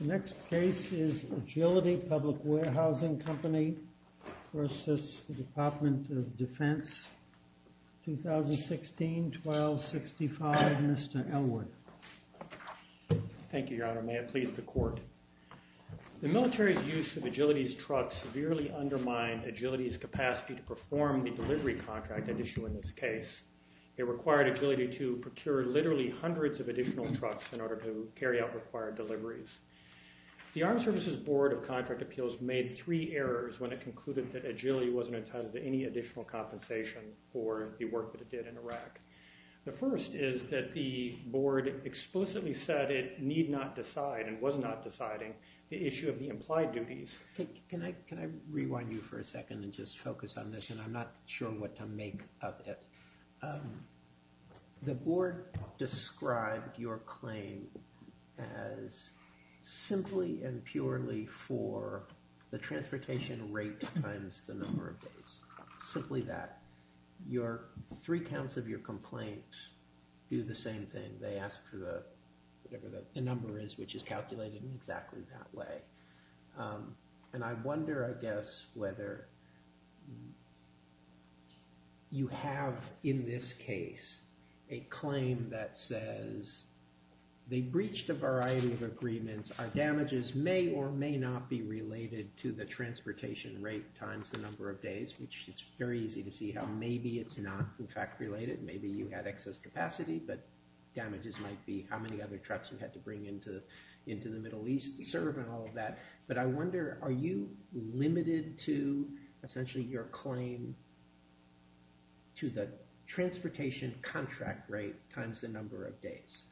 The next case is Agility Public Warehousing Company v. Department of Defense, 2016-12-65, Mr. Elwood. Thank you, Your Honor. May it please the Court. The military's use of Agility's capacity to perform the delivery contract at issue in this case. It required Agility to procure literally hundreds of additional trucks in order to carry out required deliveries. The Armed Services Board of Contract Appeals made three errors when it concluded that Agility wasn't entitled to any additional compensation for the work that it did in Iraq. The first is that the Board explicitly said it need not decide, and was not deciding, the issue of the implied duties. Can I rewind you for a second and just focus on this, and I'm not sure what to make of it. The Board described your claim as simply and purely for the transportation rate times the number of days. Simply that. Your three counts of your complaint do the And I wonder, I guess, whether you have, in this case, a claim that says they breached a variety of agreements. Our damages may or may not be related to the transportation rate times the number of days, which it's very easy to see how maybe it's not in fact related. Maybe you had excess capacity, but damages might be how many other trucks you had to all of that. But I wonder, are you limited to essentially your claim to the transportation contract rate times the number of days?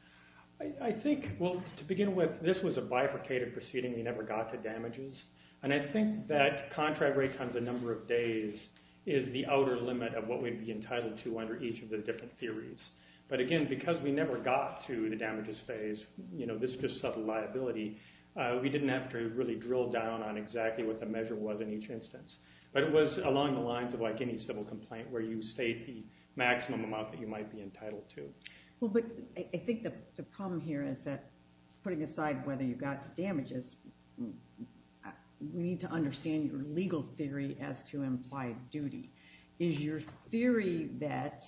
I think, well, to begin with, this was a bifurcated proceeding. We never got to damages. And I think that contract rate times the number of days is the outer limit of what we'd be entitled to under each of the different theories. But again, because we never got to the damages phase, this is just subtle liability, we didn't have to really drill down on exactly what the measure was in each instance. But it was along the lines of like any civil complaint, where you state the maximum amount that you might be entitled to. Well, but I think the problem here is that putting aside whether you got to damages, we need to understand your legal theory as to implied duty. Is your theory that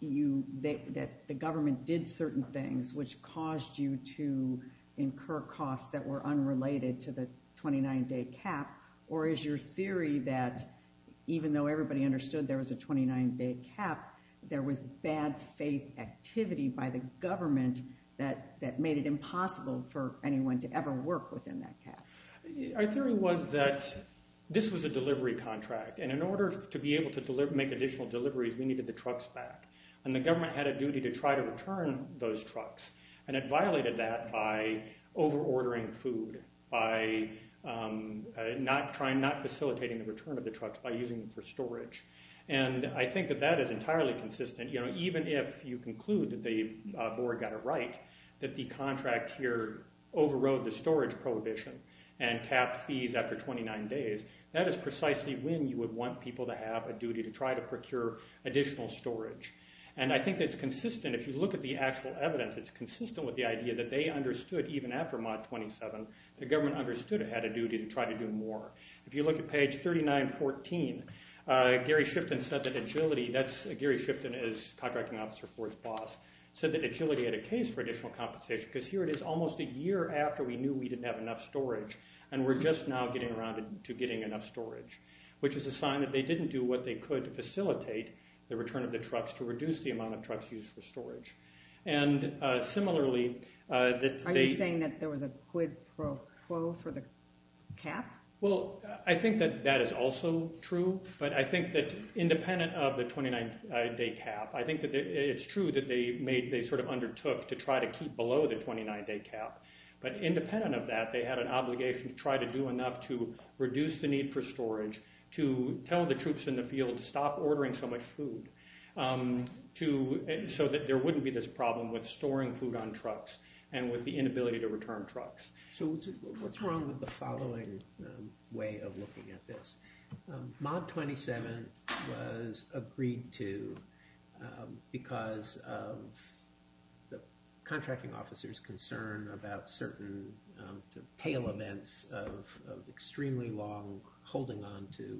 the government did certain things which caused you to incur costs that were unrelated to the 29-day cap? Or is your theory that even though everybody understood there was a 29-day cap, there was bad faith activity by the government that made it impossible for anyone to ever work within that cap? Our theory was that this was a delivery contract. And in order to be able to make additional deliveries, we needed the trucks back. And the government had a duty to try to return those trucks. And it violated that by over-ordering food, by not facilitating the return of the trucks by using them for storage. And I think that that is entirely consistent. Even if you conclude that the board got it right, that the contract here overrode the storage prohibition and capped fees after 29 days, that is precisely when you would want people to have a duty to try to procure additional storage. And I think that's consistent. If you look at the actual evidence, it's consistent with the idea that they understood even after Mod 27, the government understood it had a duty to try to do more. If you look at page 3914, Gary Shifton said that Agility, Gary Shifton is contracting officer for his boss, said that Agility had a case for additional compensation. Because here it is almost a year after we knew we didn't have enough storage. And we're just now getting around to getting enough storage. Which is a sign that they didn't do what they could to facilitate the return of the trucks to reduce the amount of trucks used for storage. And similarly, that they... Are you saying that there was a quid pro quo for the cap? Well, I think that that is also true. But I think that independent of the 29 day cap, I think that it's true that they made, they sort of undertook to try to keep below the 29 day cap. But independent of that, they had an obligation to try to do enough to reduce the need for storage, to tell the troops in the field to stop ordering so much food. So that there wouldn't be this problem with storing food on trucks and with the inability to return trucks. So what's wrong with the following way of looking at this? Mod 27 was agreed to because of the contracting officer's concern about certain tail events of extremely long holding on to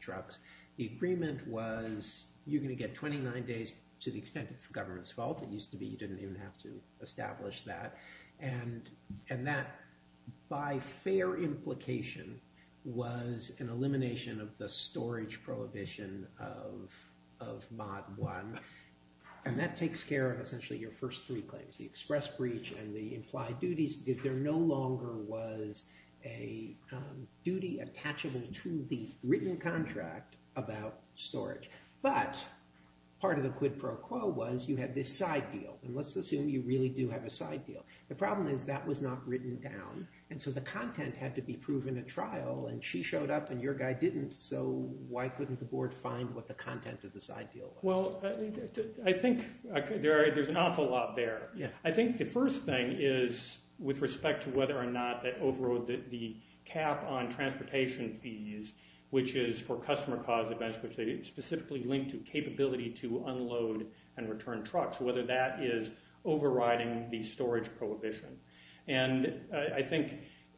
trucks. The agreement was you're going to get 29 days to the extent it's the government's fault. It used to be you didn't even have to establish that. And that, by fair implication, was an elimination of the storage prohibition of Mod 1. And that takes care of essentially your first three claims. The express breach and the implied duties because there no longer was a duty attachable to the written contract about storage. But part of the quid pro quo was you had this side deal. And let's assume you really do have a side deal. The problem is that was not written down. And so the content had to be proven at trial. And she showed up and your guy didn't. So why couldn't the board find what the content of the side deal was? Well, I think there's an awful lot there. I think the first thing is with respect to whether or not they overrode the cap on transportation fees, which is for customer cause events, which they specifically linked to capability to unload and return trucks, whether that is overriding the storage prohibition. And I think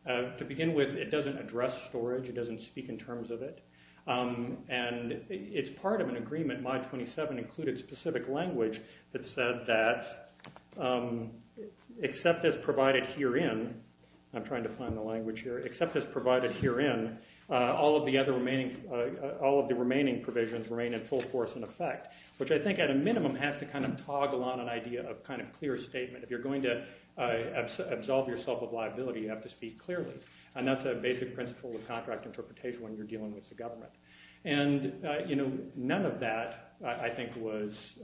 to begin with, it doesn't address storage. It doesn't speak in terms of it. And it's part of an agreement, Mod 27 included specific language that said that except as provided herein, I'm trying to find the language here, except as provided herein, all of the other remaining, all of the remaining provisions remain in full force and effect, which I think at a minimum has to kind of toggle on an idea of kind of clear statement. If you're going to absolve yourself of liability, you have to speak clearly. And that's a basic principle of contract interpretation when you're dealing with the government. And, you know, none of that I think was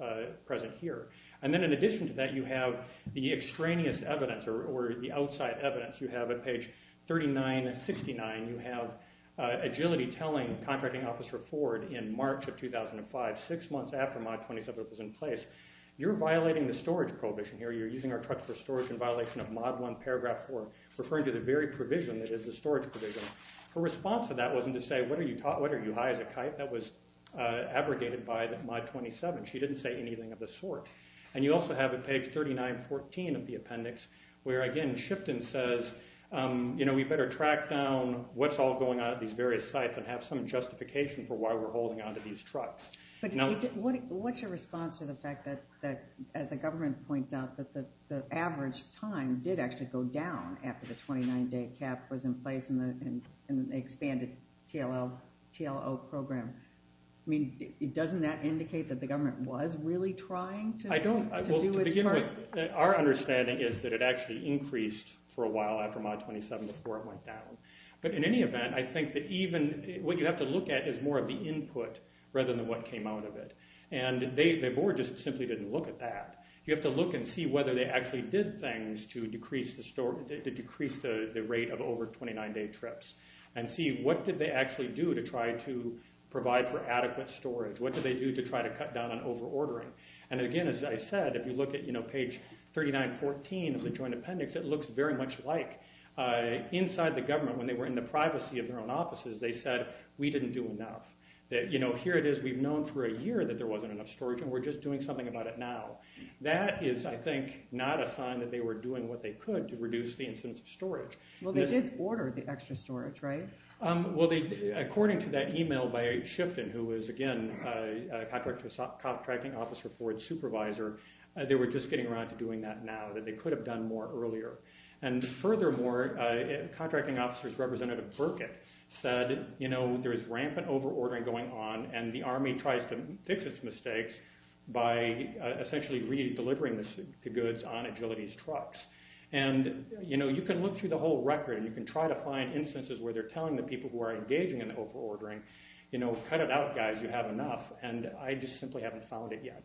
present here. And then in addition to that, you have the extraneous evidence or the outside evidence. You have at page 3969, you have agility telling Contracting Officer Ford in March of 2005, six months after Mod 27 was in place, you're violating the storage prohibition here. You're using our trucks for storage in violation of Mod 1 paragraph 4, referring to the very provision that is the storage provision. Her response to that wasn't to say, what are you high as a kite? That was abrogated by Mod 27. She didn't say anything of the sort. And you also have at page 3914 of the appendix, where again Shifton says, you know, we better track down what's all going on at these various sites and have some justification for why we're holding on to these trucks. But what's your response to the fact that, as the government points out, that the average time did actually go down after the 29-day cap was in place in the expanded TLO program? I mean, doesn't that indicate that the government was really trying to do its part? I don't. Well, to begin with, our understanding is that it actually increased for a while after Mod 27 before it went down. But in any event, I think that even what you have to look at is more of the input rather than what came out of it. And the board just simply didn't look at that. You have to look and see whether they actually did things to decrease the rate of over 29-day trips and see what did they actually do to try to provide for adequate storage. What did they do to try to cut down on overordering? And again, as I said, if you look at page 3914 of the joint appendix, it looks very much like inside the government, when they were in the privacy of their own offices, they said, we didn't do enough. You know, here it is. We've known for a year that there is no need to do it now. That is, I think, not a sign that they were doing what they could to reduce the incidence of storage. Well, they did order the extra storage, right? Well, according to that email by Chifton, who was, again, a contracting officer for its supervisor, they were just getting around to doing that now, that they could have done more earlier. And furthermore, contracting officers representative Burkett said, you know, the Army tries to fix its mistakes by essentially re-delivering the goods on Agility's trucks. And you know, you can look through the whole record, and you can try to find instances where they're telling the people who are engaging in overordering, you know, cut it out, guys. You have enough. And I just simply haven't found it yet.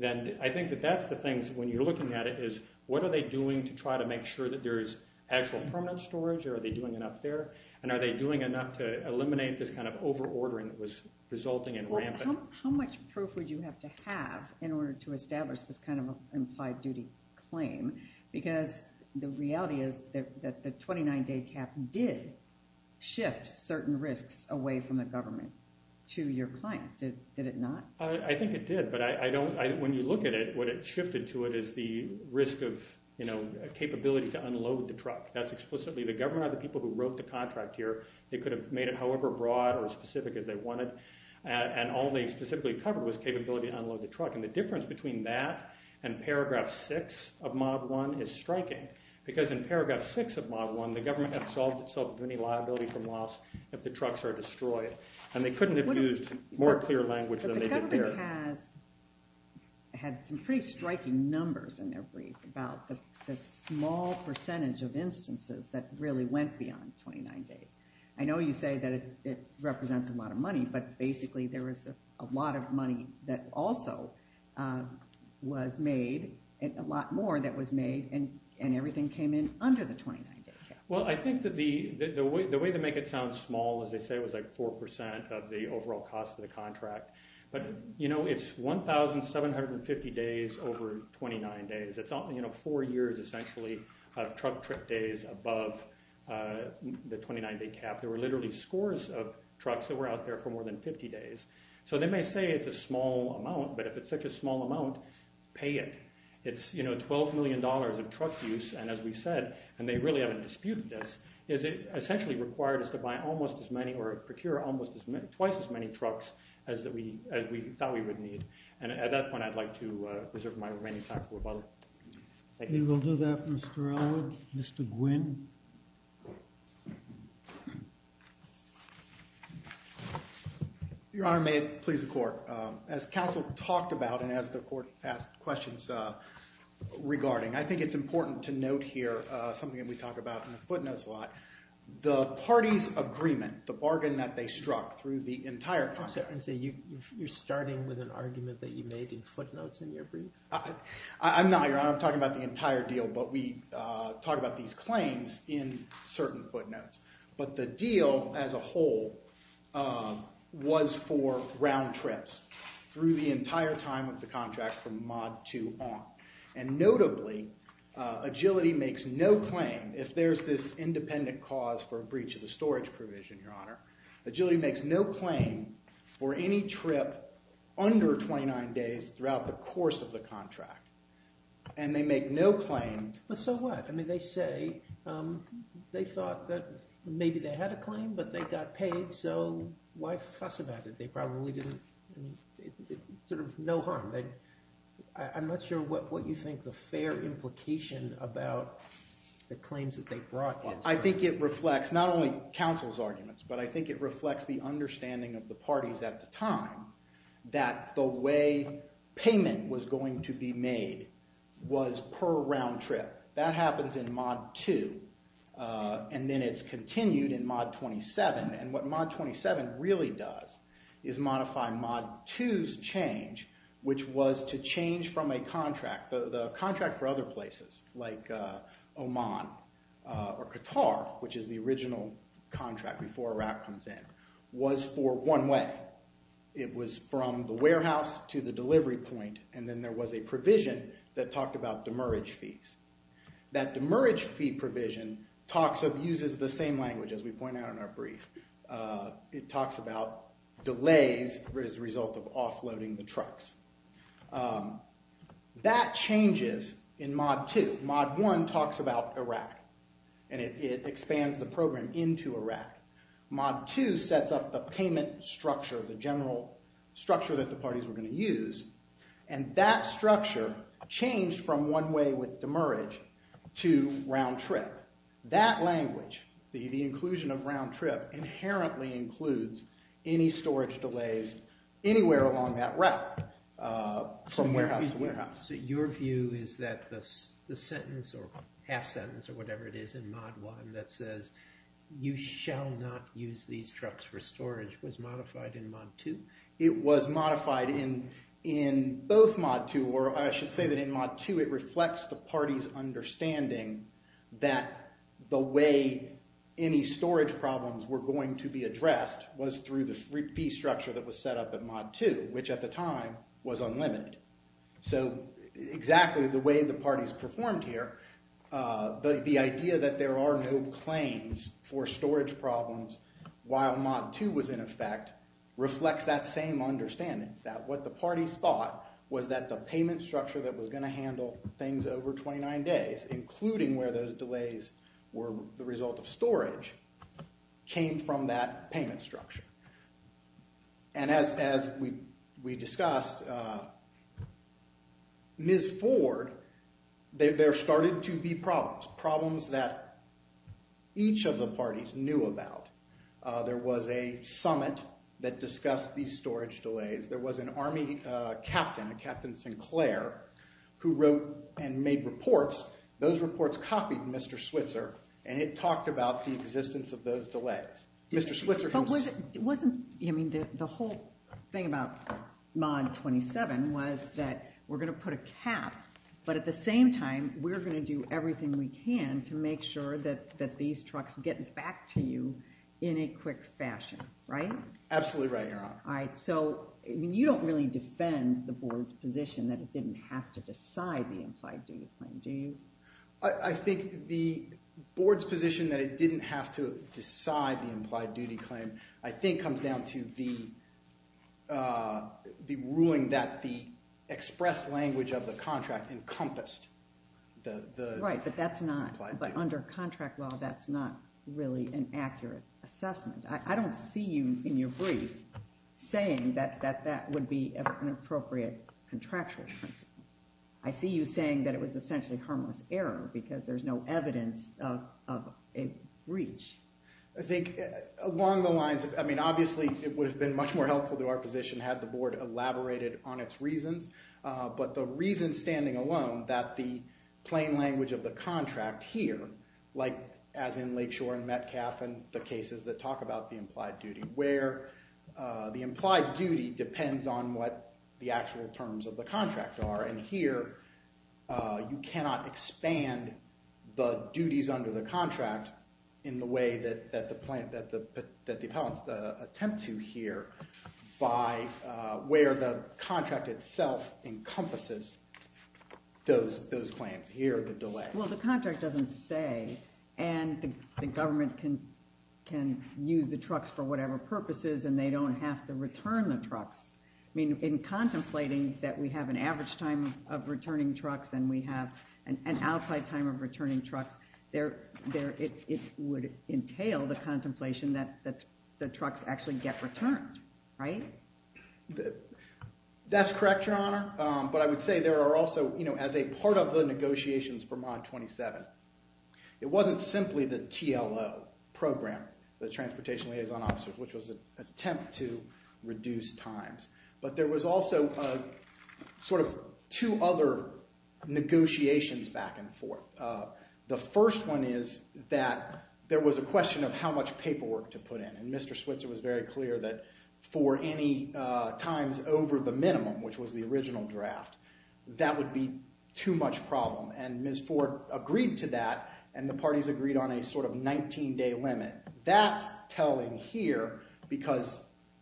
And I think that that's the things, when you're looking at it, is what are they doing to try to make sure that there is actual permanent storage, or are they doing enough there? And are they doing enough to eliminate this kind of overordering that was resulting in rampant? How much proof would you have to have in order to establish this kind of implied duty claim? Because the reality is that the 29-day cap did shift certain risks away from the government to your client, did it not? I think it did, but I don't, when you look at it, what it shifted to it is the risk of, you know, capability to unload the truck. That's explicitly, the government or the people who wrote the contract here, they could have made it however broad or specific as they wanted, and all they specifically covered was capability to unload the truck. And the difference between that and paragraph 6 of Mod 1 is striking, because in paragraph 6 of Mod 1, the government absolved itself of any liability from loss if the trucks are destroyed, and they couldn't have used more clear language than they did there. But the government has had some pretty striking numbers in their brief about the small percentage of instances that really went beyond 29 days. I know you say that it represents a lot of money, but basically there was a lot of money that also was made, a lot more that was made, and everything came in under the 29-day cap. Well I think that the way to make it sound small, as they say, was like 4% of the overall cost of the contract. But, you know, it's 1,750 days over 29 days. It's, you know, four years essentially of truck trip days above the 29-day cap. There were literally scores of trucks that were out there for more than 50 days. So they may say it's a small amount, but if it's such a small amount, pay it. It's, you know, $12 million of truck use, and as we said, and they really haven't disputed this, is it essentially required us to buy almost as many, or procure almost as many, twice as many trucks as we thought we would need. And at that point I'd like to reserve my remaining time for rebuttal. We will do that, Mr. Ellwood. Mr. Gwynne. Your Honor, may it please the Court. As counsel talked about, and as the Court asked questions regarding, I think it's important to note here something that we talk about in the footnotes a lot. The parties' agreement, the bargain that they struck through the entire contract. I'm sorry, you're starting with an argument that you made in footnotes in your brief? I'm not, Your Honor. I'm talking about the entire deal, but we talk about these claims in certain footnotes. But the deal as a whole was for round trips through the entire time of the contract from mod to on. And notably, Agility makes no claim, if there's this independent cause for a breach of the storage provision, Your Honor, Agility makes no claim for any trip under 29 days throughout the course of the contract. And they make no claim. But so what? I mean, they say they thought that maybe they had a claim, but they got paid, so why fuss about it? They probably didn't, sort of, no harm. I'm not sure what you think the fair implication about the claims that they brought is. Well, I think it reflects not only counsel's arguments, but I think it reflects the way payment was going to be made was per round trip. That happens in mod 2, and then it's continued in mod 27. And what mod 27 really does is modify mod 2's change, which was to change from a contract. The contract for other places, like Oman or Qatar, which is the original contract before Iraq comes in, was for one way. It was from the warehouse to the delivery point, and then there was a provision that talked about demerge fees. That demerge fee provision uses the same language, as we point out in our brief. It talks about delays as a result of offloading the trucks. That changes in mod 2. Mod 1 talks about Iraq, and it expands the program into Iraq. Mod 2 sets up the payment structure, the general structure that the parties were going to use, and that structure changed from one way with demerge to round trip. That language, the inclusion of round trip, was set up from warehouse to warehouse. So your view is that the sentence, or half sentence, or whatever it is in mod 1 that says, you shall not use these trucks for storage, was modified in mod 2? It was modified in both mod 2, or I should say that in mod 2 it reflects the party's understanding that the way any storage problems were going to be addressed was through the fee structure that was set up at mod 2, which at the time was unlimited. So exactly the way the parties performed here, the idea that there are no claims for storage problems while mod 2 was in effect, reflects that same understanding. That what the parties thought was that the payment structure that was going to handle things over 29 days, including where those delays were the result of storage, came from that payment structure. And as we discussed, Ms. Ford, there started to be problems, problems that each of the parties knew about. There was a summit that discussed these storage delays. There was an army captain, Captain Sinclair, who wrote and made reports. Those reports copied Mr. Switzer, and it talked about the existence of those delays. Mr. Switzer... But wasn't, I mean, the whole thing about mod 27 was that we're going to put a cap, but at the same time, we're going to do everything we can to make sure that these trucks get back to you in a quick fashion, right? Absolutely right, Your Honor. All right, so you don't really defend the board's position that it didn't have to decide the implied duty claim, do you? I think the board's position that it didn't have to decide the implied duty claim, I think, comes down to the ruling that the express language of the contract encompassed the implied duty. Right, but that's not, but under contract law, that's not really an actual principle. I see you saying that it was essentially harmless error, because there's no evidence of a breach. I think along the lines of, I mean, obviously, it would have been much more helpful to our position had the board elaborated on its reasons, but the reason standing alone that the plain language of the contract here, like as in Lakeshore and Metcalfe and the cases that talk about the implied duty, where the implied duty depends on what the actual terms of the contract are. And here, you cannot expand the duties under the contract in the way that the appellants attempt to here by where the contract itself encompasses those claims. Here, the delay. Well, the contract doesn't say, and the government can use the trucks for whatever purposes, and they don't have to use the trucks. I mean, in contemplating that we have an average time of returning trucks and we have an outside time of returning trucks, it would entail the contemplation that the trucks actually get returned, right? That's correct, Your Honor, but I would say there are also, you know, as a part of the negotiations for Mod 27, it wasn't simply the TLO program, the Transportation Liaison Officers, which was an attempt to reduce times, but there was also sort of two other negotiations back and forth. The first one is that there was a question of how much paperwork to put in, and Mr. Switzer was very clear that for any times over the minimum, which was the original draft, that would be too much of a problem, and Ms. Ford agreed to that, and the parties agreed on a sort of 19-day limit. That's telling here, because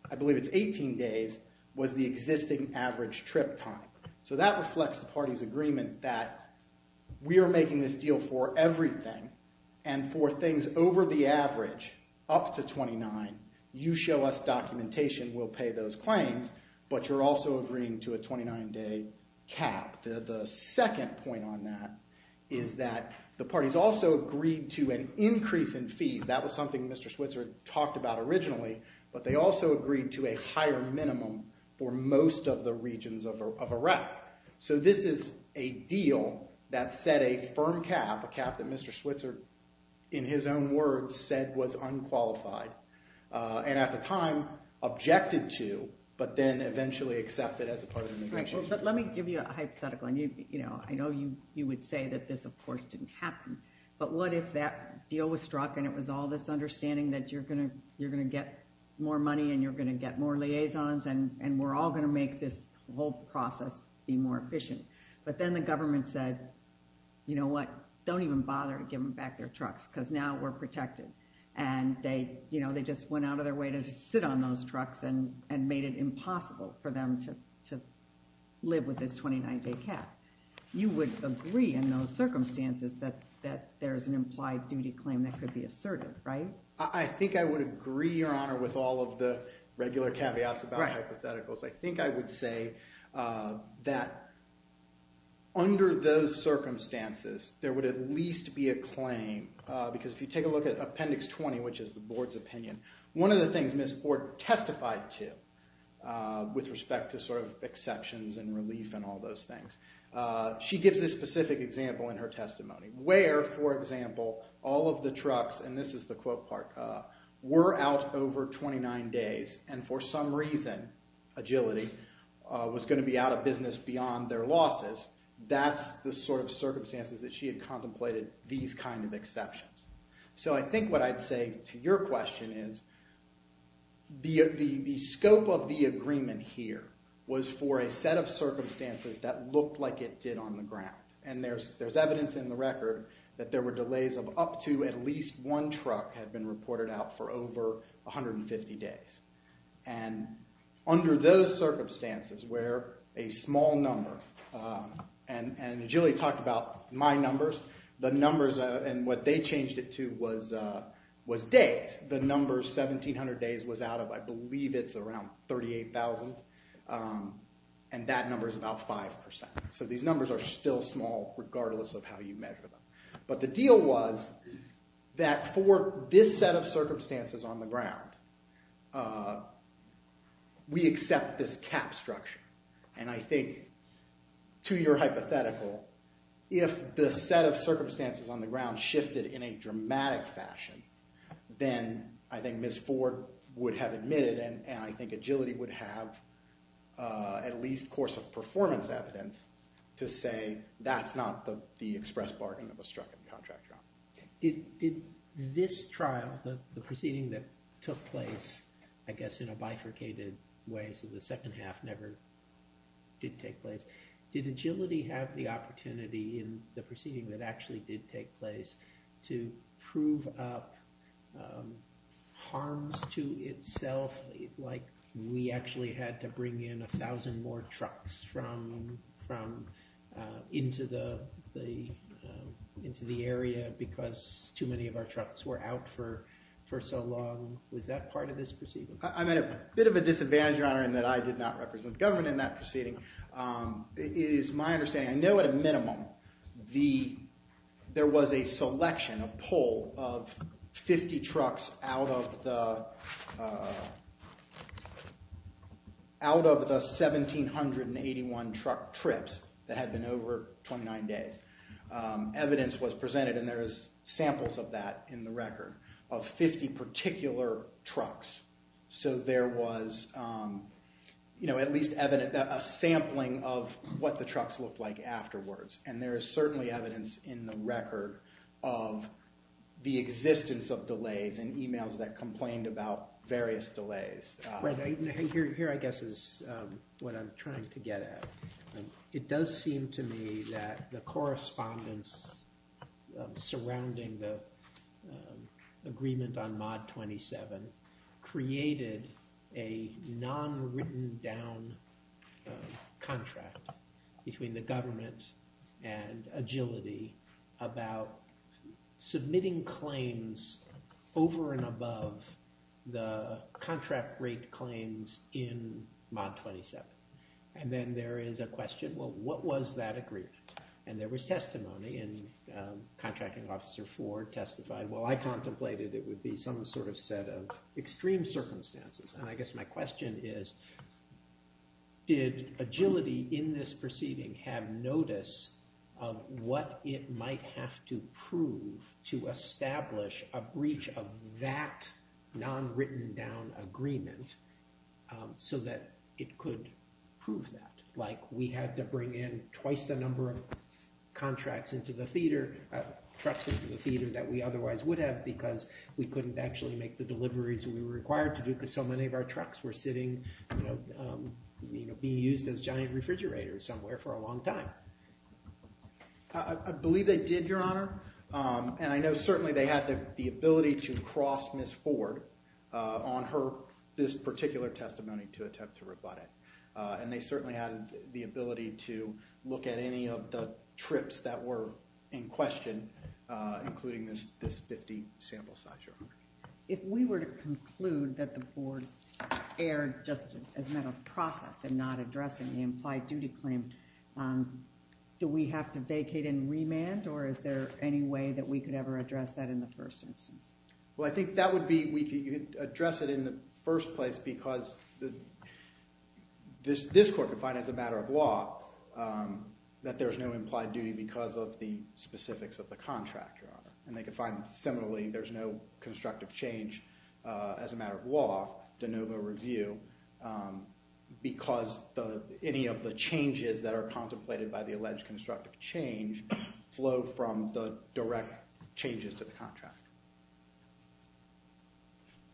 I believe it's 18 days, was the existing average trip time. So that reflects the parties' agreement that we are making this deal for everything, and for things over the average, up to 29, you show us documentation, we'll pay those claims, but you're also agreeing to a 29-day cap. The second point on that is that the parties also agreed to an increase in fees, that was something Mr. Switzer talked about originally, but they also agreed to a higher minimum for most of the regions of Iraq. So this is a deal that set a firm cap, a cap that Mr. Switzer, in his own words, said was unqualified, and at the time, objected to, but then eventually accepted as a part of the negotiations. But let me give you a hypothetical, and I know you would say that this, of course, didn't happen, but what if that deal was struck and it was all this understanding that you're going to get more money, and you're going to get more liaisons, and we're all going to make this whole deal, and you don't even bother giving back their trucks, because now we're protected, and they just went out of their way to sit on those trucks and made it impossible for them to live with this 29-day cap. You would agree in those circumstances that there's an implied duty claim that could be asserted, right? I think I would agree, Your Honor, with all of the regular caveats about hypotheticals. I think I would say that under those circumstances, there would at least be a claim, because if you take a look at Appendix 20, which is the Board's opinion, one of the things Ms. Ford testified to with respect to sort of exceptions and relief and all those things, she gives this specific example in her testimony where, for example, all of the trucks, and this is the quote part, were out over 29 days, and for some reason, Agility, was going to be out of business beyond their losses. That's the sort of circumstances that she had contemplated these kind of exceptions. So I think what I'd say to your question is, the scope of the agreement here was for a set of circumstances that looked like it did on the ground, and there's evidence in the record that there were delays of up to at least one truck had been reported out for over 150 days, and under those circumstances, where a small number, and Agility talked about my numbers, the numbers, and what they changed it to was days. The number 1,700 days was out of, I believe it's around 38,000, and that number is about 5%. So these numbers are still small, regardless of how you measure them. But the deal was that for this set of circumstances on the ground, we accept this cap structure, and I think, to your hypothetical, if the set of circumstances on the ground shifted in a dramatic fashion, then I think Ms. Ford would have admitted, and I think Agility would have, at least course of performance evidence, to say that's not the express bargain of a struck-up contract job. Did this trial, the proceeding that took place, I guess in a bifurcated way, so the second half never did take place, did Agility have the opportunity in the proceeding that actually did take place to prove up harms to itself, like we actually had to bring in 1,000 more trucks into the area because too many of our trucks were out for so long? Was that part of this proceeding? I'm at a bit of a disadvantage, Your Honor, in that I did not represent the government in that proceeding. It is my understanding, I know at a minimum, there was a selection, a poll of 50 trucks out of the 1,781 truck trips that had been over 29 days. Evidence was presented, and there is samples of that in the record, of 50 particular trucks. So there was at least a sampling of what the trucks looked like afterwards. And there is certainly evidence in the record of the existence of delays and emails that complained about various delays. Here, I guess, is what I'm trying to get at. It does seem to me that the correspondence surrounding the agreement on Mod 27 created a non-written-down contract between the government and Agility about submitting claims over and above the contract rate claims in Mod 27. And then there is a question, well, what was that agreement? And there was testimony, and Contracting Officer Ford testified, well, I contemplated it would be some sort of set of extreme circumstances. And I guess my question is, did Agility in this proceeding have notice of what it might have to prove to establish a breach of that non-written-down agreement so that it could prove that? Like, we had to bring in twice the number of trucks into the theater that we otherwise would have because we couldn't actually make the deliveries we were required to do because so many of our trucks were being used as giant refrigerators somewhere for a long time. I believe they did, Your Honor. And I know certainly they had the ability to cross Ms. Ford on this particular testimony to attempt to rebut it. And they certainly had the ability to look at any of the trips that were in question, including this 50 sample size, Your Honor. If we were to conclude that the board erred just as a matter of process in not addressing the implied duty claim, do we have to vacate and remand? Or is there any way that we could ever address that in the first instance? Well, I think that would be we could address it in the first place because this court could find as a matter of law that there's no implied duty because of the specifics of the contract, Your Honor. And they could find similarly there's no constructive change as a matter of law, de novo review, because any of the changes that are contemplated by the alleged constructive change flow from the direct changes to the contract.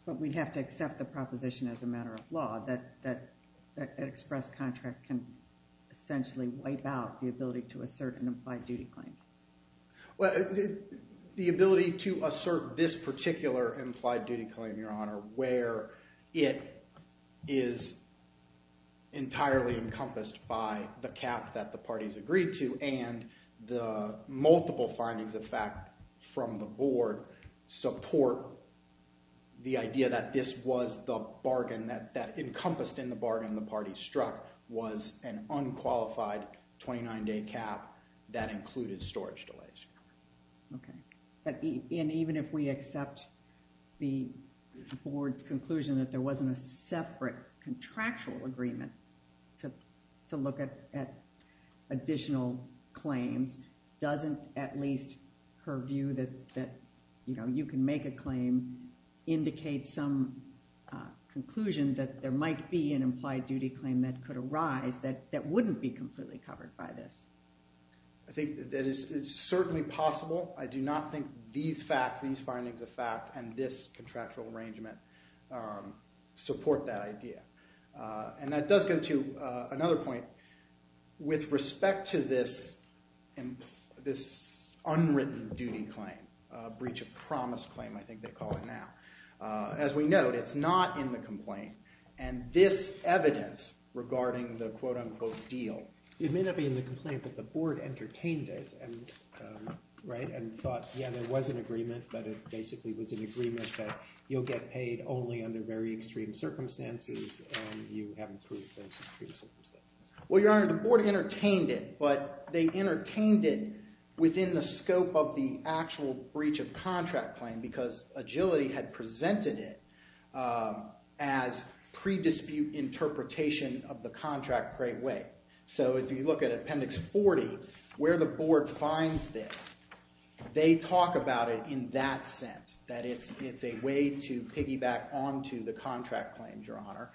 But we'd have to accept the proposition as a matter of law that an express contract can essentially wipe out the ability to assert an implied duty claim. Well, the ability to assert this particular implied duty claim, Your Honor, where it is entirely encompassed by the cap that the parties agreed to, and the multiple findings of fact from the board support the idea that this was the bargain that encompassed in the bargain the party struck was an unqualified 29-day cap that included storage delays. Okay. And even if we accept the board's conclusion that there wasn't a separate contractual agreement to look at additional claims, doesn't at least her view that you can make a claim indicate some conclusion that there might be an implied duty claim that could arise that wouldn't be completely covered by this? I think that it's certainly possible. I do not think these facts, these findings of fact, and this contractual arrangement support that idea. And that does go to another point. With respect to this unwritten duty claim, breach of promise claim I think they call it now, as we note, it's not in the complaint. And this evidence regarding the quote-unquote deal. It may not be in the complaint, but the board entertained it, right, and thought, yeah, there was an agreement, but it basically was an agreement that you'll get paid only under very extreme circumstances, and you haven't proved those extreme circumstances. Well, Your Honor, the board entertained it, but they entertained it within the scope of the actual breach of contract claim because agility had presented it as pre-dispute interpretation of the contract great way. So if you look at Appendix 40, where the board finds this, they talk about it in that sense, that it's a way to piggyback onto the contract claim, Your Honor,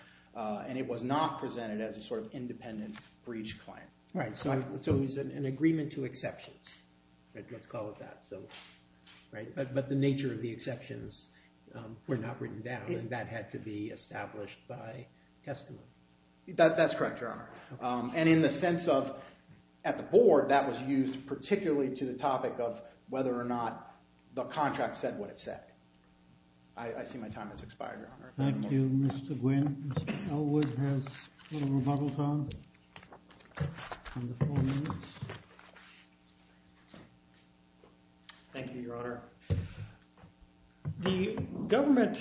and it was not presented as a sort of independent breach claim. Right, so it was an agreement to exceptions. Let's call it that. But the nature of the exceptions were not written down, and that had to be established by testimony. That's correct, Your Honor. And in the sense of, at the board, that was used particularly to the topic of whether or not the contract said what it said. I see my time has expired, Your Honor. Thank you, Mr. Gwynne. Mr. Elwood has a little rebuttal time. Thank you, Your Honor. The government,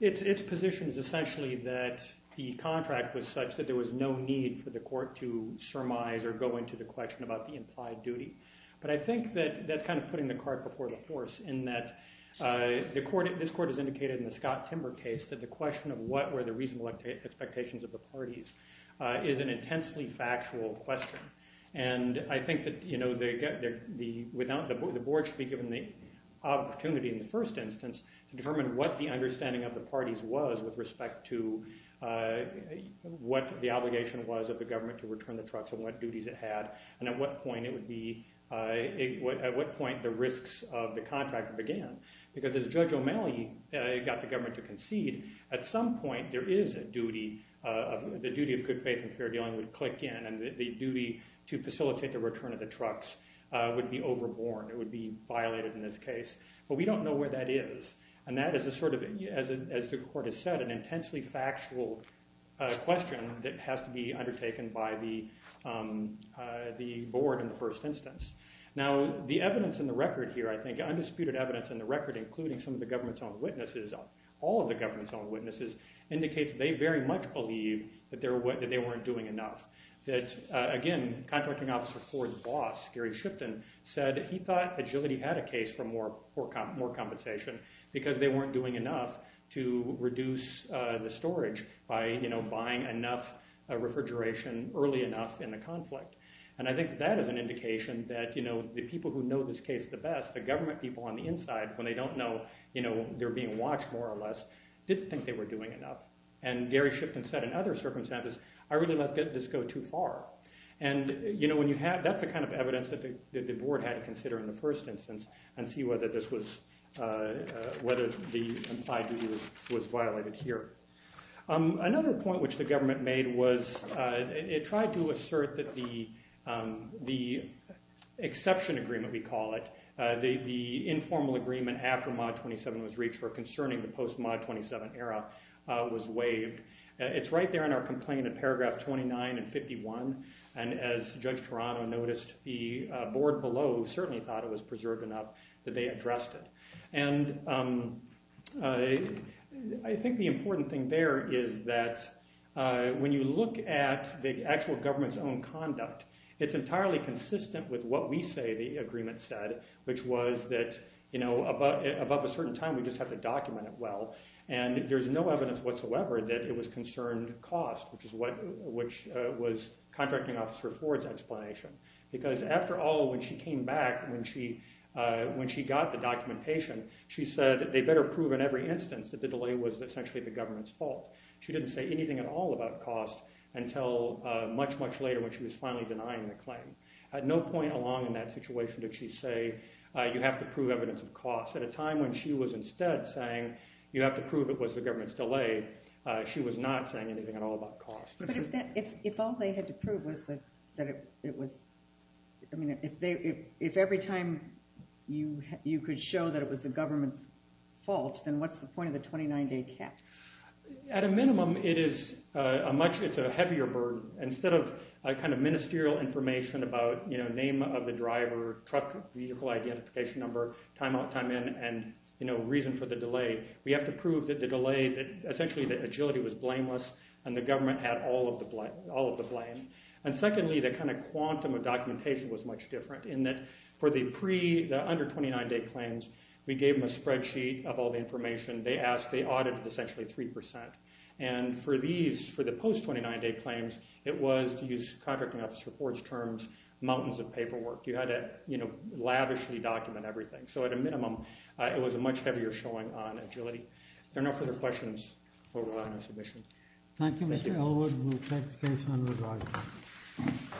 its position is essentially that the contract was such that there was no need for the court to surmise or go into the question about the implied duty. But I think that that's kind of putting the cart before the horse in that this court has indicated in the Scott Timber case that the question of what were the reasonable expectations of the parties is an intensely factual question. And I think that the board should be given the opportunity in the first instance to determine what the understanding of the parties was with respect to what the obligation was of the government to return the trucks and what duties it had, and at what point the risks of the contract began. Because as Judge O'Malley got the government to concede, at some point there is a duty, the duty of good faith and fair dealing would click in, and the duty to facilitate the return of the trucks would be overborne, it would be violated in this case. But we don't know where that is. And that is a sort of, as the court has said, an intensely factual question that has to be undertaken by the board in the first instance. Now, the evidence in the record here, I think, undisputed evidence in the record, including some of the government's own witnesses, all of the government's own witnesses, indicates they very much believe that they weren't doing enough. That, again, Contracting Officer Ford's boss, Gary Shifton, said he thought Agility had a case for more compensation because they weren't doing enough to reduce the storage by buying enough refrigeration early enough in the conflict. And I think that is an indication that the people who know this case the best, the government people on the inside, when they don't know they're being watched, more or less, didn't think they were doing enough. And Gary Shifton said, in other circumstances, I really let this go too far. And that's the kind of evidence that the board had to consider in the first instance and see whether the implied duty was violated here. Another point which the government made was it tried to assert that the exception agreement, we call it, the informal agreement after Mod 27 was reached for concerning the post-Mod 27 era was waived. It's right there in our complaint in paragraph 29 and 51. And as Judge Toronto noticed, the board below certainly thought it was preserved enough that they addressed it. And I think the important thing there is that when you look at the actual government's own conduct, it's entirely consistent with what we say the agreement said, which was that above a certain time, we just have to document it well. And there's no evidence whatsoever that it was concerned cost, which was Contracting Officer Ford's explanation. Because after all, when she came back, when she got the documentation, she said they better prove in every instance that the delay was essentially the government's fault. She didn't say anything at all about cost until much, much later when she was finally denying the claim. At no point along in that situation did she say you have to prove evidence of cost. At a time when she was instead saying you have to prove it was the government's delay, she was not saying anything at all about cost. But if all they had to prove was that it was, if every time you could show that it was the government's fault, then what's the point of the 29-day cap? At a minimum, it is a much, it's a heavier burden. Instead of kind of ministerial information about name of the driver, truck vehicle identification number, time out, time in, and reason for the delay, we have to prove that the delay, that essentially the agility was blameless and the government had all of the blame. And secondly, the kind of quantum of documentation was much different in that for the pre-, the under-29-day claims, we gave them a spreadsheet of all the information. They asked, they audited essentially 3%. And for these, for the post-29-day claims, it was, to use Contracting Officer Ford's terms, mountains of paperwork. You had to lavishly document everything. So at a minimum, it was a much heavier showing on agility. If there are no further questions, we'll move on to submission. Thank you, Mr. Ellwood. We'll take the case under review.